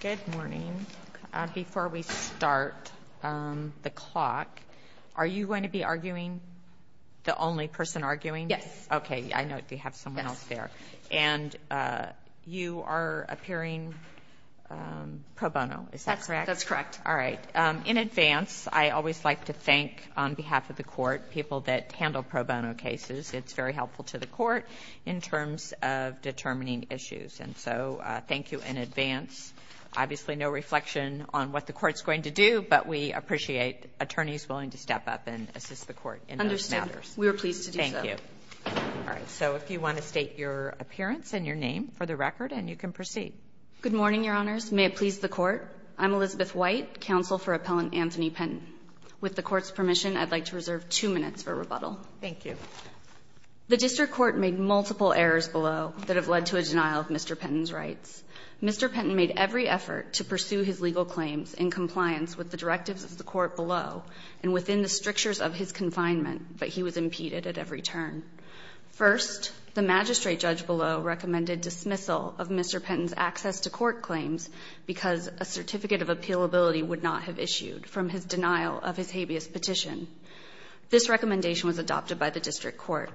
Good morning. Before we start the clock, are you going to be arguing? The only person arguing? Yes. Okay, I know you have someone else there. And you are appearing pro bono, is that correct? That's correct. All right. In advance, I always like to thank, on behalf of the court, people that handle pro bono cases. It's very helpful to the court in terms of determining issues. And so thank you in advance. Obviously, no reflection on what the court's going to do, but we appreciate attorneys willing to step up and assist the court in those matters. Understood. We are pleased to do so. Thank you. All right. So if you want to state your appearance and your name for the record, then you can proceed. Good morning, Your Honors. May it please the court, I'm Elizabeth White, counsel for Appellant Anthony Penton. With the court's permission, I'd like to reserve two minutes for rebuttal. Thank you. The District Court made multiple errors below that have led to a denial of Mr. Penton's rights. Mr. Penton made every effort to pursue his legal claims in compliance with the directives of the court below and within the strictures of his confinement, but he was impeded at every turn. First, the magistrate judge below recommended dismissal of Mr. Penton's access to court claims because a certificate of appealability would not have issued from his denial of his habeas petition. This recommendation was adopted by the District Court,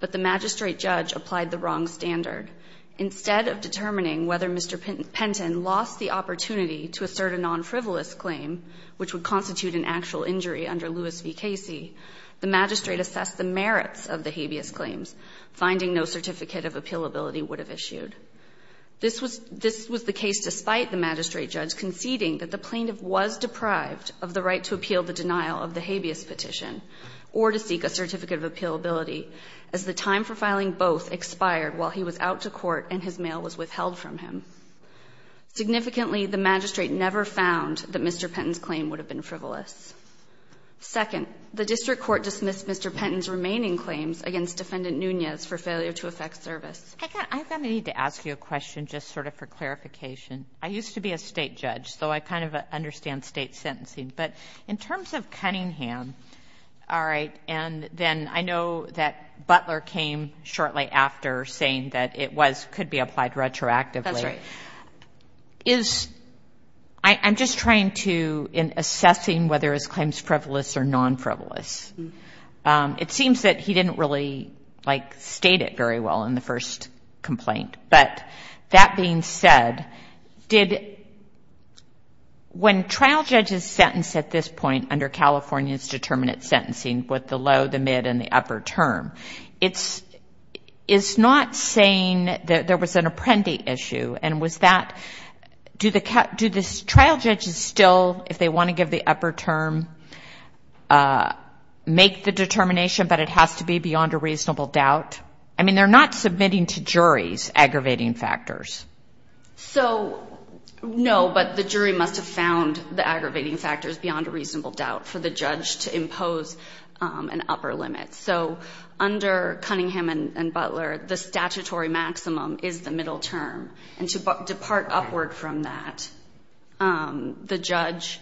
but the magistrate judge applied the wrong standard. Instead of determining whether Mr. Penton lost the opportunity to assert a non-frivolous claim, which would constitute an actual injury under Lewis v. Casey, the magistrate assessed the merits of the habeas claims, finding no certificate of appealability would have issued. This was the case despite the magistrate judge conceding that the plaintiff was deprived of the right to appeal the denial of the habeas petition or to seek a certificate of appealability, as the time for filing both expired while he was out to court and his mail was withheld from him. Significantly, the magistrate never found that Mr. Penton's claim would have been frivolous. Second, the District Court dismissed Mr. Penton's remaining claims against Defendant Nunez for failure to effect service. I'm going to need to ask you a question just sort of for clarification. I used to be a but in terms of Cunningham, all right, and then I know that Butler came shortly after saying that it could be applied retroactively. I'm just trying to, in assessing whether his claims frivolous or non-frivolous, it seems that he didn't really state it very well in the first complaint. But that being said, did, when trial judges sentence at this point under California's determinate sentencing with the low, the mid, and the upper term, it's not saying that there was an apprendee issue and was that, do the trial judges still, if they want to give the upper term, make the determination, but it has to be beyond a reasonable doubt? I mean, they're not submitting to juries aggravating factors. So no, but the jury must have found the aggravating factors beyond a reasonable doubt for the judge to impose an upper limit. So under Cunningham and Butler, the statutory maximum is the middle term and to depart upward from that, the judge,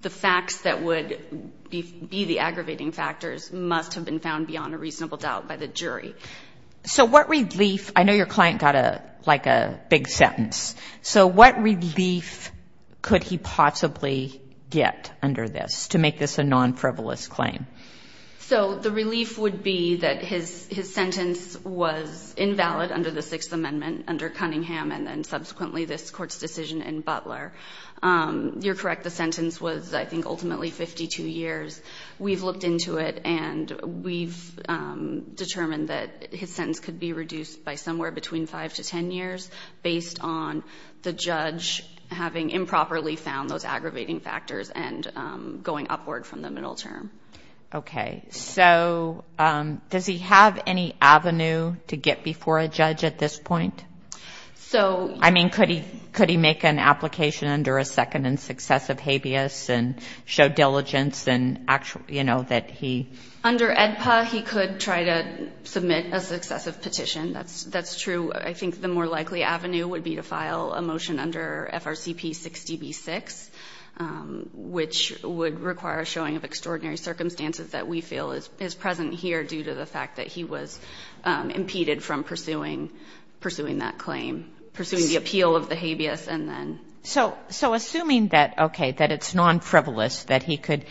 the facts that would be the aggravating factors must have been found beyond a reasonable doubt by the jury. So what relief, I know your client got a, like a big sentence. So what relief could he possibly get under this to make this a non-frivolous claim? So the relief would be that his, his sentence was invalid under the sixth amendment under Cunningham and then subsequently this court's decision in Butler. You're correct. The sentence was I think ultimately 52 years. We've looked into it and we've determined that his sentence could be reduced by somewhere between five to 10 years based on the judge having improperly found those aggravating factors and going upward from the middle term. Okay. So does he have any avenue to get before a judge at this point? So I mean, could he, could he make an application under a second and successive habeas and show diligence and actual, you know, that he. Under AEDPA, he could try to submit a successive petition. That's, that's true. I think the more likely avenue would be to file a motion under FRCP 60B-6, which would require a showing of extraordinary circumstances that we feel is present here due to the fact that he was making that claim, pursuing the appeal of the habeas and then. So assuming that, okay, that it's non-frivolous, that he could,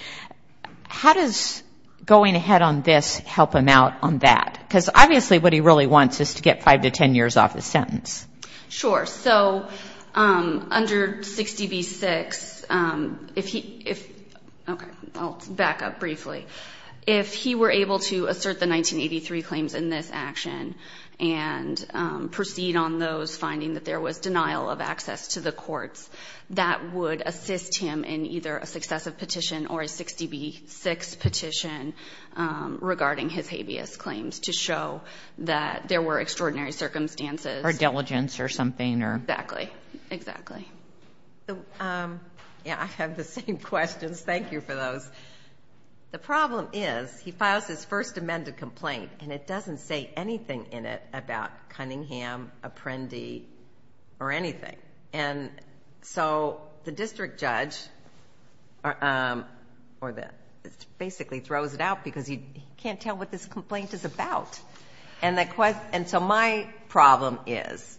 how does going ahead on this help him out on that? Because obviously what he really wants is to get five to 10 years off his sentence. Sure. So under 60B-6, if he, if, okay, I'll back up briefly. If he were able to assert the 1983 claims in this action and proceed on those, finding that there was denial of access to the courts, that would assist him in either a successive petition or a 60B-6 petition regarding his habeas claims to show that there were extraordinary circumstances. Or diligence or something or. Exactly. Exactly. Yeah, I have the same questions. Thank you for those. The problem is he files his first amended complaint and it doesn't say anything in it about Cunningham, Apprendi, or anything. And so the district judge, or the, basically throws it out because he can't tell what this complaint is about. And the question, and so my problem is,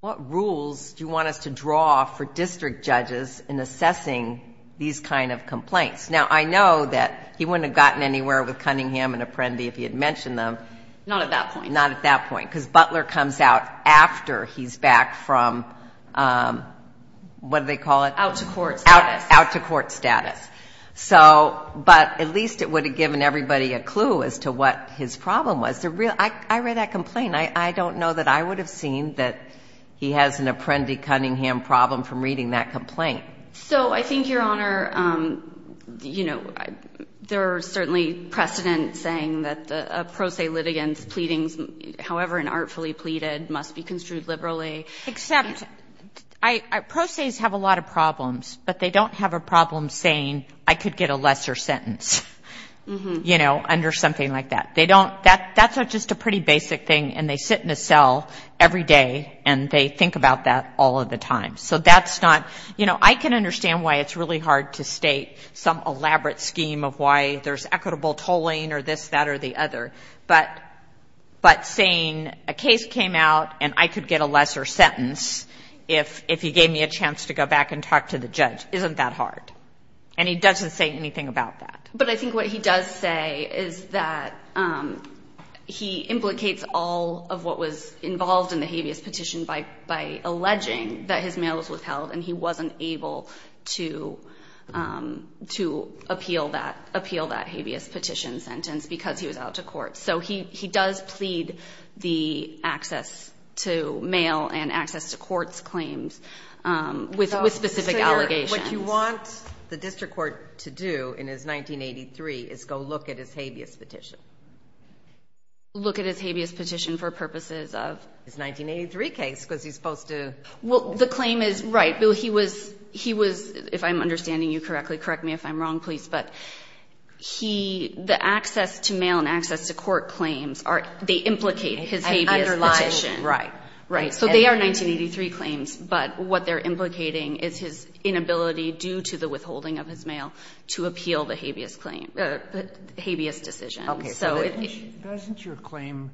what rules do you want us to draw for district judges in assessing these kind of complaints? Now I know that he wouldn't have gotten anywhere with Cunningham and Apprendi if he had mentioned them. Not at that point. Not at that point. Because Butler comes out after he's back from, what do they call it? Out to court status. Out to court status. So, but at least it would have given everybody a clue as to what his problem was. I read that complaint. I don't know that I would have seen that he has an Apprendi-Cunningham problem from reading that complaint. So I think, Your Honor, you know, there's certainly precedent saying that a pro se litigant's pleadings, however inartfully pleaded, must be construed liberally. Except, pro ses have a lot of problems, but they don't have a problem saying, I could get a lesser sentence, you know, under something like that. They don't, that's just a pretty basic thing and they sit in a cell every day and they think about that all of the time. So that's not, you know, I can understand why it's really hard to state some elaborate scheme of why there's equitable tolling or this, that or the other, but saying a case came out and I could get a lesser sentence if you gave me a chance to go back and talk to the judge isn't that hard. And he doesn't say anything about that. But I think what he does say is that he implicates all of what was involved in the habeas petition by alleging that his mail was withheld and he wasn't able to appeal that habeas petition sentence because he was out to court. So he does plead the access to mail and access to court's claims with specific allegations. What you want the district court to do in his 1983 is go look at his habeas petition. Look at his habeas petition for purposes of? His 1983 case because he's supposed to. Well, the claim is right. Bill, he was, he was, if I'm understanding you correctly, correct me if I'm wrong, please, but he, the access to mail and access to court claims are, they implicate his habeas petition. Underlying, right. Right. So they are 1983 claims, but what they're implicating is his inability due to the withholding of his mail to appeal the habeas claim, the habeas decision. Okay. Doesn't your claim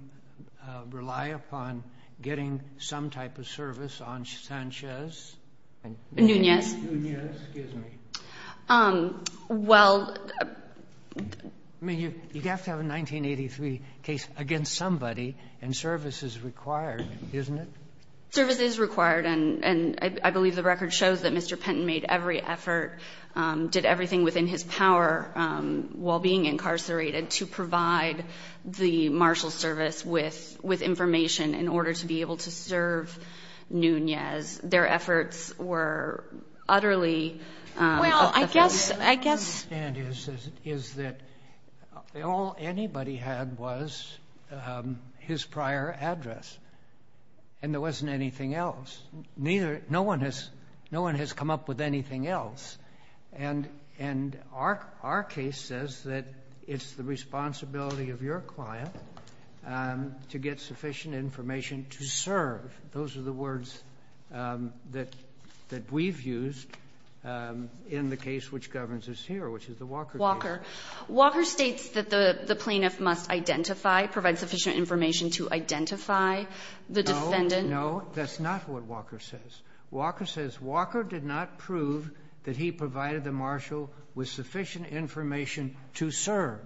rely upon getting some type of service on Sanchez? Nunez. Nunez, excuse me. Well... I mean, you'd have to have a 1983 case against somebody and service is required, isn't it? Service is required and I believe the record shows that Mr. Penton made every effort, did everything within his power while being incarcerated to provide the marshal service with, with information in order to be able to serve Nunez. Their efforts were utterly... Well, I guess, I guess... What I don't understand is that all anybody had was his prior address and there wasn't anything else. Neither, no one has, no one has come up with anything else and, and our, our case says that it's the responsibility of your client to get sufficient information to serve. Those are the words that, that we've used in the case which governs us here, which is the Walker case. Walker. Walker states that the plaintiff must identify, provide sufficient information to identify the defendant. No, that's not what Walker says. Walker says, Walker did not prove that he provided the marshal with sufficient information to serve.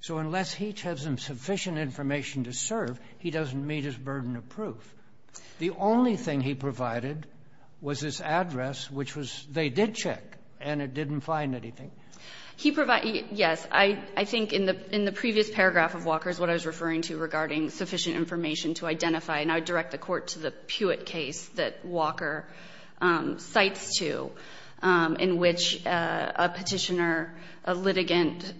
So unless he tells him sufficient information to serve, he doesn't meet his burden of proof. The only thing he provided was his address, which was, they did check and it didn't find anything. He provide, yes. I, I think in the, in the previous paragraph of Walker's, what I was referring to regarding sufficient information to identify, and I would direct the court to the Puitt case that Walker cites to, in which a petitioner, a litigant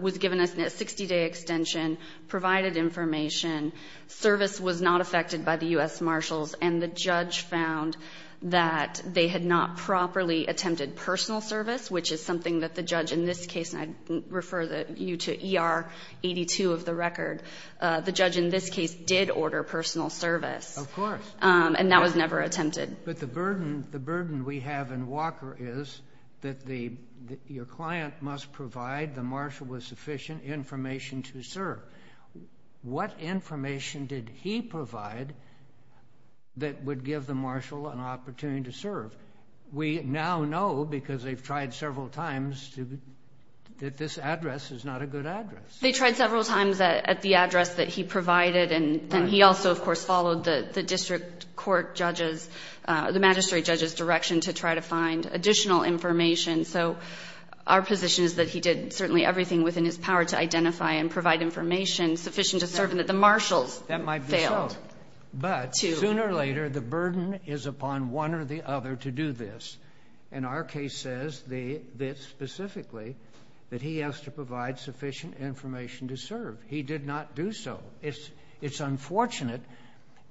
was given a 60-day extension, provided information, service was not affected by the U.S. Marshals, and the judge found that they had not properly attempted personal service, which is something that the judge in this case, and I refer you to ER 82 of the record. The judge in this case did order personal service. Of course. And that was never attempted. But the burden, the burden we have in Walker is that the, your client must provide the marshal with sufficient information to serve. What information did he provide that would give the marshal an opportunity to serve? We now know, because they've tried several times, that this address is not a good address. They tried several times at, at the address that he provided. Right. And he also, of course, followed the, the district court judge's, the magistrate judge's direction to try to find additional information. So our position is that he did certainly everything within his power to identify and provide information sufficient to serve, and that the marshals failed. That might be so. But sooner or later, the burden is upon one or the other to do this. And our case says the, that specifically, that he has to provide sufficient information to serve. He did not do so. It's, it's unfortunate,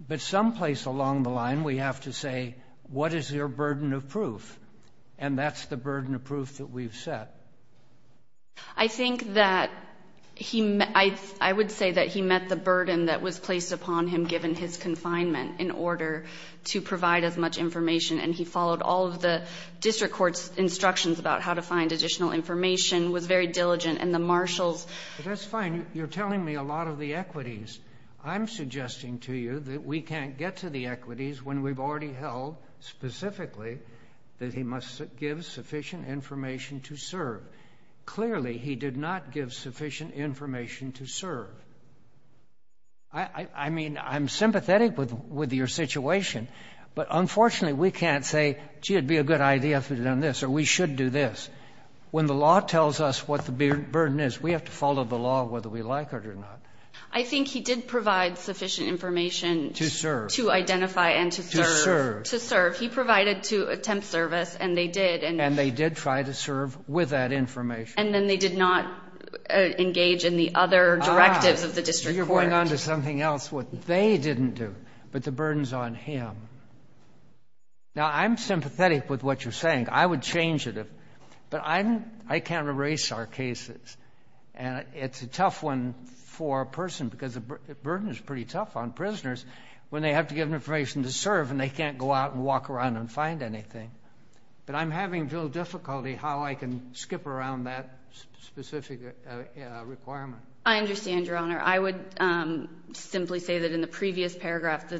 but someplace along the line, we have to say, what is your burden of proof? And that's the burden of proof that we've set. I think that he, I, I would say that he met the burden that was placed upon him given his confinement in order to provide as much information, and he followed all of the district court's instructions about how to find additional information, was very diligent, and the marshals. But that's fine. You're telling me a lot of the equities. I'm suggesting to you that we can't get to the equities when we've already held specifically that he must give sufficient information to serve. Clearly, he did not give sufficient information to serve. I, I mean, I'm sympathetic with, with your situation, but unfortunately, we can't say, gee, it'd be a good idea if we'd done this, or we should do this. When the law tells us what the burden is, we have to follow the law whether we like it or not. I think he did provide sufficient information. To serve. To identify and to serve. To serve. To serve. He provided to attempt service, and they did, and. And they did try to serve with that information. And then they did not engage in the other directives of the district court. Ah, you're going on to something else what they didn't do. But the burden's on him. Now, I'm sympathetic with what you're saying. I would change it. But I'm, I can't erase our cases. And it's a tough one for a person because the burden is pretty tough on prisoners when they have to give information to serve and they can't go out and walk around and find anything. But I'm having little difficulty how I can skip around that specific requirement. I understand, Your Honor. I would simply say that in the previous paragraph,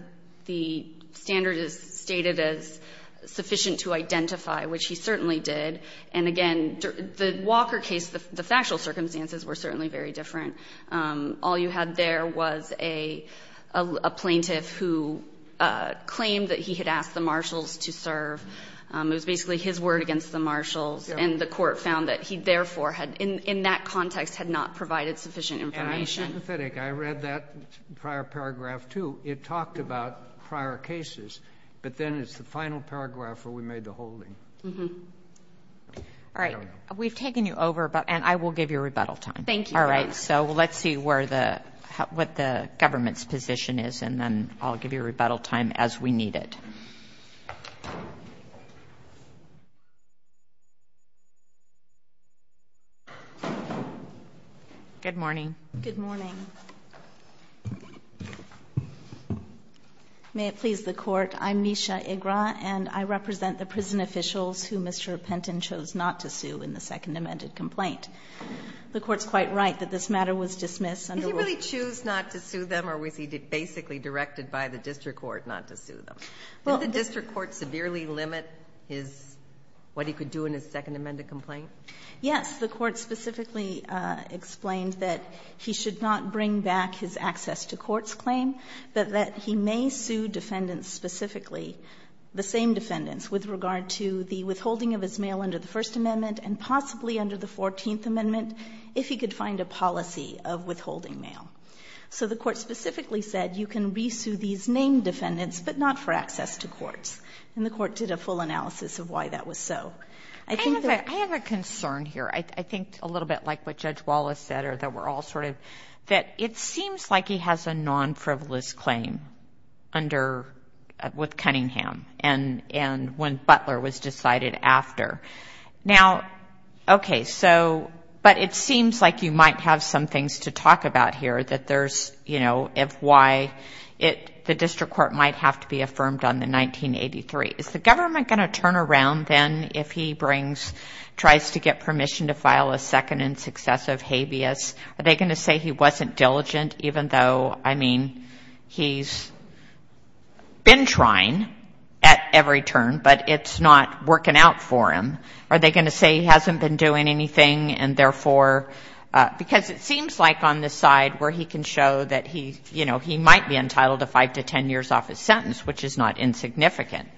the standard is stated as sufficient to identify, which he certainly did. And, again, the Walker case, the factual circumstances were certainly very different. All you had there was a plaintiff who claimed that he had asked the marshals to serve. It was basically his word against the marshals. And the court found that he, therefore, had, in that context, had not provided sufficient information. I'm sympathetic. I read that prior paragraph, too. It talked about prior cases. But then it's the final paragraph where we made the holding. All right. We've taken you over. And I will give you rebuttal time. Thank you, Your Honor. All right. So let's see where the, what the government's position is. And then I'll give you rebuttal time as we need it. Good morning. Good morning. May it please the Court. I'm Nisha Igra, and I represent the prison officials who Mr. Penton chose not to sue in the second amended complaint. The Court's quite right that this matter was dismissed under the rule. Did he really choose not to sue them, or was he basically directed by the district court not to sue them? Did the district court severely limit his, what he could do in his second amended complaint? Yes. The Court specifically explained that he should not bring back his access to courts claim, but that he may sue defendants specifically, the same defendants, with regard to the withholding of his mail under the First Amendment and possibly under the Fourteenth Amendment, if he could find a policy of withholding mail. So the Court specifically said you can re-sue these named defendants, but not for access to courts. And the Court did a full analysis of why that was so. I have a concern here. I think a little bit like what Judge Wallace said, or that we're all sort of, that it seems like he has a non-frivolous claim under, with Cunningham and when Butler was decided after. Now, okay, so, but it seems like you might have some things to talk about here that there's, you know, if why it, the district court might have to be affirmed on the 1983. Is the government going to turn around then if he brings, tries to get permission to file a second and successive habeas? Are they going to say he wasn't diligent, even though, I mean, he's been trying at every turn, but it's not working out for him? Are they going to say he hasn't been doing anything and therefore, because it doesn't work out, he can show that he, you know, he might be entitled to 5 to 10 years off his sentence, which is not insignificant?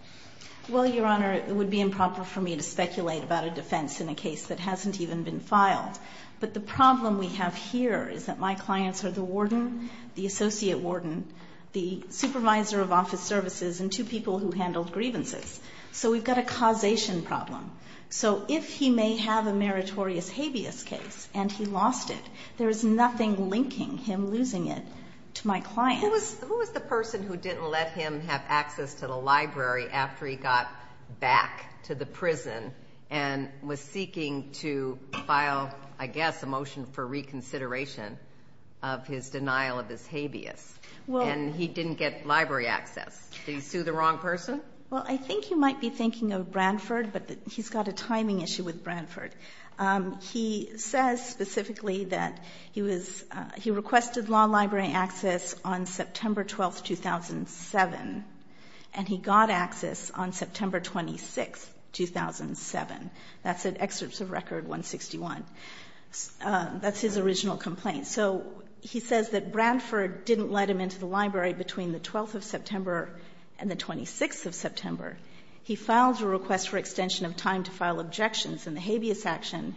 Well, Your Honor, it would be improper for me to speculate about a defense in a case that hasn't even been filed. But the problem we have here is that my clients are the warden, the associate warden, the supervisor of office services, and two people who handled grievances. So we've got a causation problem. So if he may have a meritorious habeas case and he lost it, there is nothing linking him losing it to my clients. Who was the person who didn't let him have access to the library after he got back to the prison and was seeking to file, I guess, a motion for reconsideration of his denial of his habeas? And he didn't get library access. Did he sue the wrong person? Well, I think he might be thinking of Brantford, but he's got a timing issue with Brantford. He says specifically that he requested law library access on September 12, 2007, and he got access on September 26, 2007. That's at Excerpts of Record 161. That's his original complaint. So he says that Brantford didn't let him into the library between the 12th of September and the 26th of September. He filed a request for extension of time to file objections in the habeas action,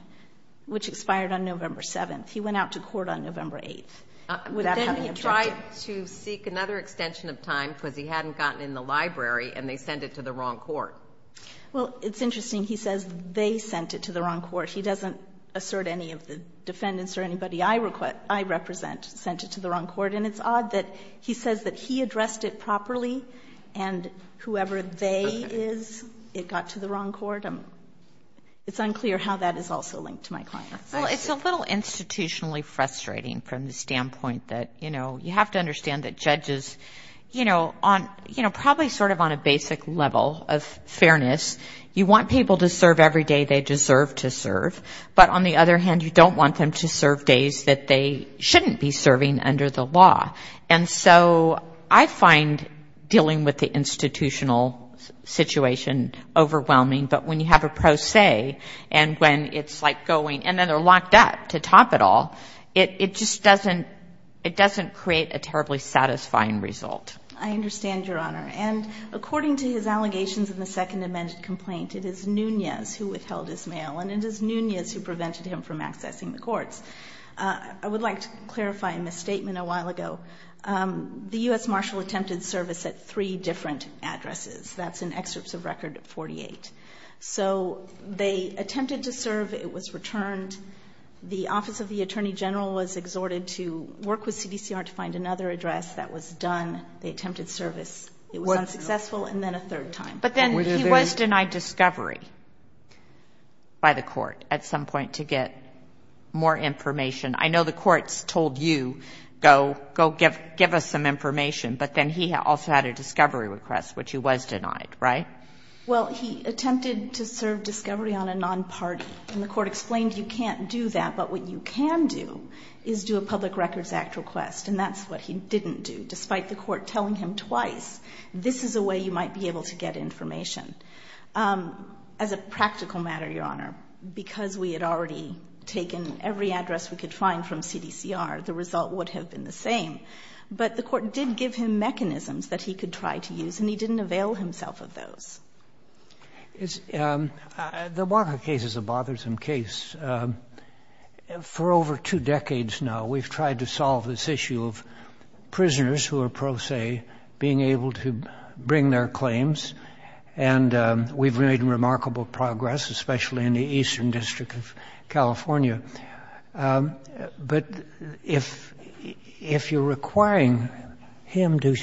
which expired on November 7th. He went out to court on November 8th without having objected. Then he tried to seek another extension of time because he hadn't gotten in the library and they sent it to the wrong court. Well, it's interesting. He says they sent it to the wrong court. He doesn't assert any of the defendants or anybody I represent sent it to the wrong court. And it's odd that he says that he addressed it properly and whoever they is, it got to the wrong court. It's unclear how that is also linked to my client. Well, it's a little institutionally frustrating from the standpoint that, you know, you have to understand that judges, you know, probably sort of on a basic level of fairness, you want people to serve every day they deserve to serve. But on the other hand, you don't want them to serve days that they shouldn't be serving under the law. And so I find dealing with the institutional situation overwhelming. But when you have a pro se and when it's like going, and then they're locked up to top it all, it just doesn't, it doesn't create a terribly satisfying result. I understand, Your Honor. And according to his allegations in the second amended complaint, it is Nunez who withheld his mail and it is Nunez who prevented him from accessing the courts. I would like to clarify a misstatement a while ago. The U.S. Marshall attempted service at three different addresses. That's in excerpts of Record 48. So they attempted to serve. It was returned. The Office of the Attorney General was exhorted to work with CDCR to find another address. That was done. They attempted service. It was unsuccessful. And then a third time. But then he was denied discovery by the court at some point to get more information. I know the courts told you, go, go give us some information. But then he also had a discovery request, which he was denied, right? Well, he attempted to serve discovery on a non-party. And the court explained, you can't do that. But what you can do is do a Public Records Act request. And that's what he didn't do, despite the court telling him twice, this is a way you might be able to get information. As a practical matter, Your Honor, because we had already taken every address we could find from CDCR, the result would have been the same. But the court did give him mechanisms that he could try to use, and he didn't avail himself of those. The Baca case is a bothersome case. For over two decades now, we've tried to solve this issue of prisoners who are pro se being able to bring their claims. And we've made remarkable progress, especially in the Eastern District of California. But if you're requiring him to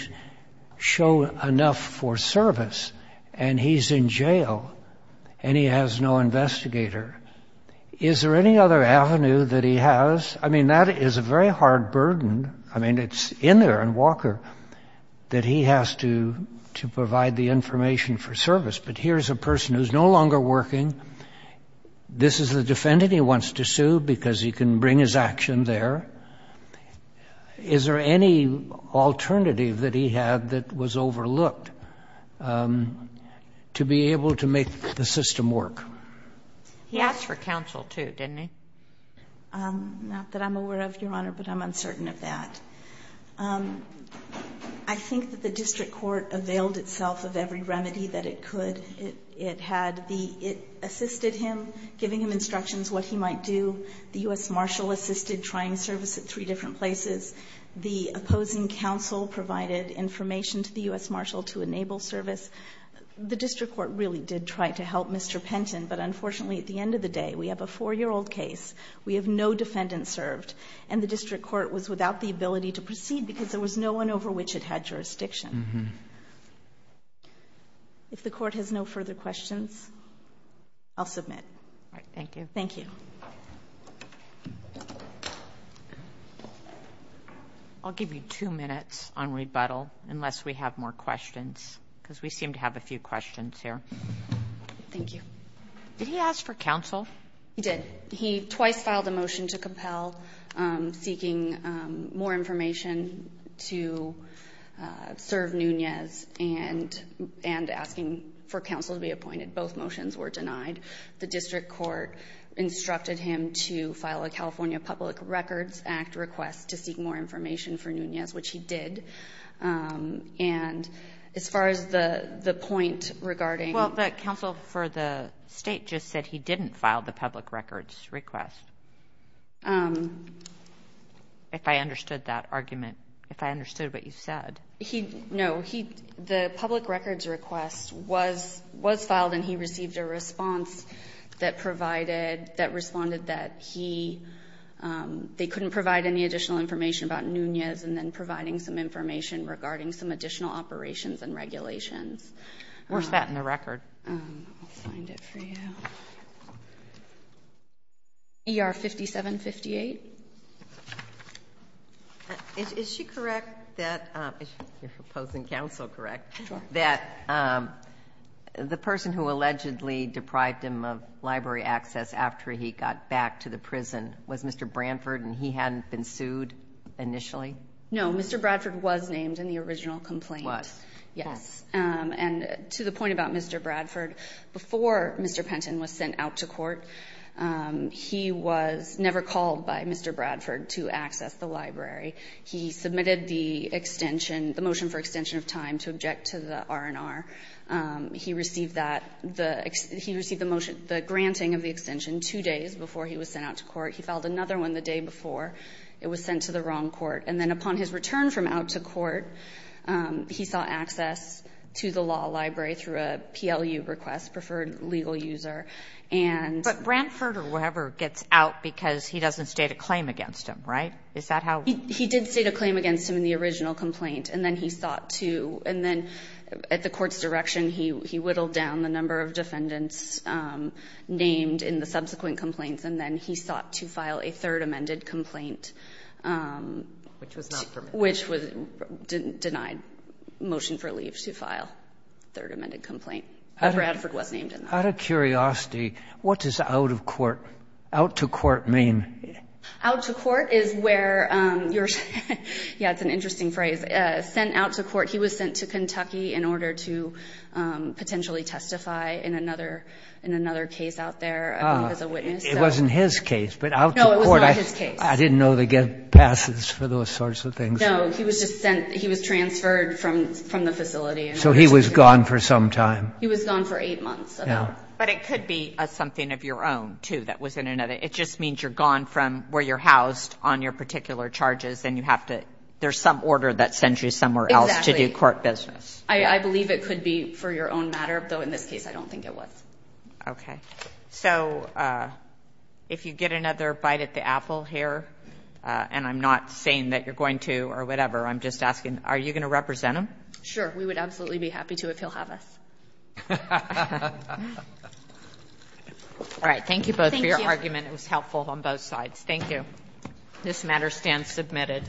show enough for service, and he's in jail, and he has no investigator, is there any other avenue that he has? I mean, that is a very hard burden. I mean, it's in there in Walker that he has to provide the information for service. But here's a person who's no longer working. This is the defendant he wants to sue because he can bring his action there. Is there any alternative that he had that was overlooked to be able to make the system work? He asked for counsel, too, didn't he? Not that I'm aware of, Your Honor, but I'm uncertain of that. I think that the district court availed itself of every remedy that it could. It had the — it assisted him, giving him instructions what he might do. The U.S. Marshal assisted, trying service at three different places. The opposing counsel provided information to the U.S. Marshal to enable service. The district court really did try to help Mr. Penton. But unfortunately, at the end of the day, we have a four-year-old case. We have no defendant served. And the district court was without the ability to proceed because there was no one over which it had jurisdiction. If the court has no further questions, I'll submit. All right. Thank you. Thank you. I'll give you two minutes on rebuttal, unless we have more questions, because we seem to have a few questions here. Thank you. Did he ask for counsel? He did. He twice filed a motion to compel, seeking more information to serve Nunez and asking for counsel to be appointed. Both motions were denied. The district court instructed him to file a California Public Records Act request to seek more information for Nunez, which he did. And as far as the point regarding – Well, but counsel for the state just said he didn't file the public records request, if I understood that argument, if I understood what you said. No. The public records request was filed, and he received a response that provided – that responded that he – they couldn't provide any additional information about Nunez and then providing some information regarding some additional operations and regulations. Where's that in the record? I'll find it for you. ER 5758. Is she correct that – if you're proposing counsel correct – Sure. – that the person who allegedly deprived him of library access after he got back to the prison was Mr. Bradford and he hadn't been sued initially? No, Mr. Bradford was named in the original complaint. Was. Yes. And to the point about Mr. Bradford, before Mr. Penton was sent out to court, he was never called by Mr. Bradford to access the library. He submitted the extension – the motion for extension of time to object to the R&R. He received that – he received the granting of the extension two days before he was sent out to court. He filed another one the day before. It was sent to the wrong court. And then upon his return from out to court, he saw access to the law library through a PLU request, preferred legal user. But Bradford or whoever gets out because he doesn't state a claim against him, right? Is that how – He did state a claim against him in the original complaint, and then he sought to – and then at the court's direction, he whittled down the number of defendants named in the subsequent complaints, and then he sought to file a third amended complaint. Which was not permitted. Which was denied motion for leave to file. Third amended complaint. But Bradford was named in that. Out of curiosity, what does out of court – out to court mean? Out to court is where you're – yeah, it's an interesting phrase. Sent out to court. He was sent to Kentucky in order to potentially testify in another case out there, I think, as a witness. It wasn't his case, but out to court – No, it was not his case. I didn't know they get passes for those sorts of things. No, he was just sent – he was transferred from the facility. So he was gone for some time. He was gone for eight months, about. But it could be something of your own, too, that was in another – it just means you're gone from where you're housed on your particular charges, and you have to – there's some order that sends you somewhere else to do court business. Exactly. I believe it could be for your own matter, though in this case I don't think it was. Okay. So if you get another bite at the apple here, and I'm not saying that you're going to or whatever, I'm just asking, are you going to represent him? Sure. We would absolutely be happy to if he'll have us. All right. Thank you both for your argument. It was helpful on both sides. Thank you. This matter stands submitted.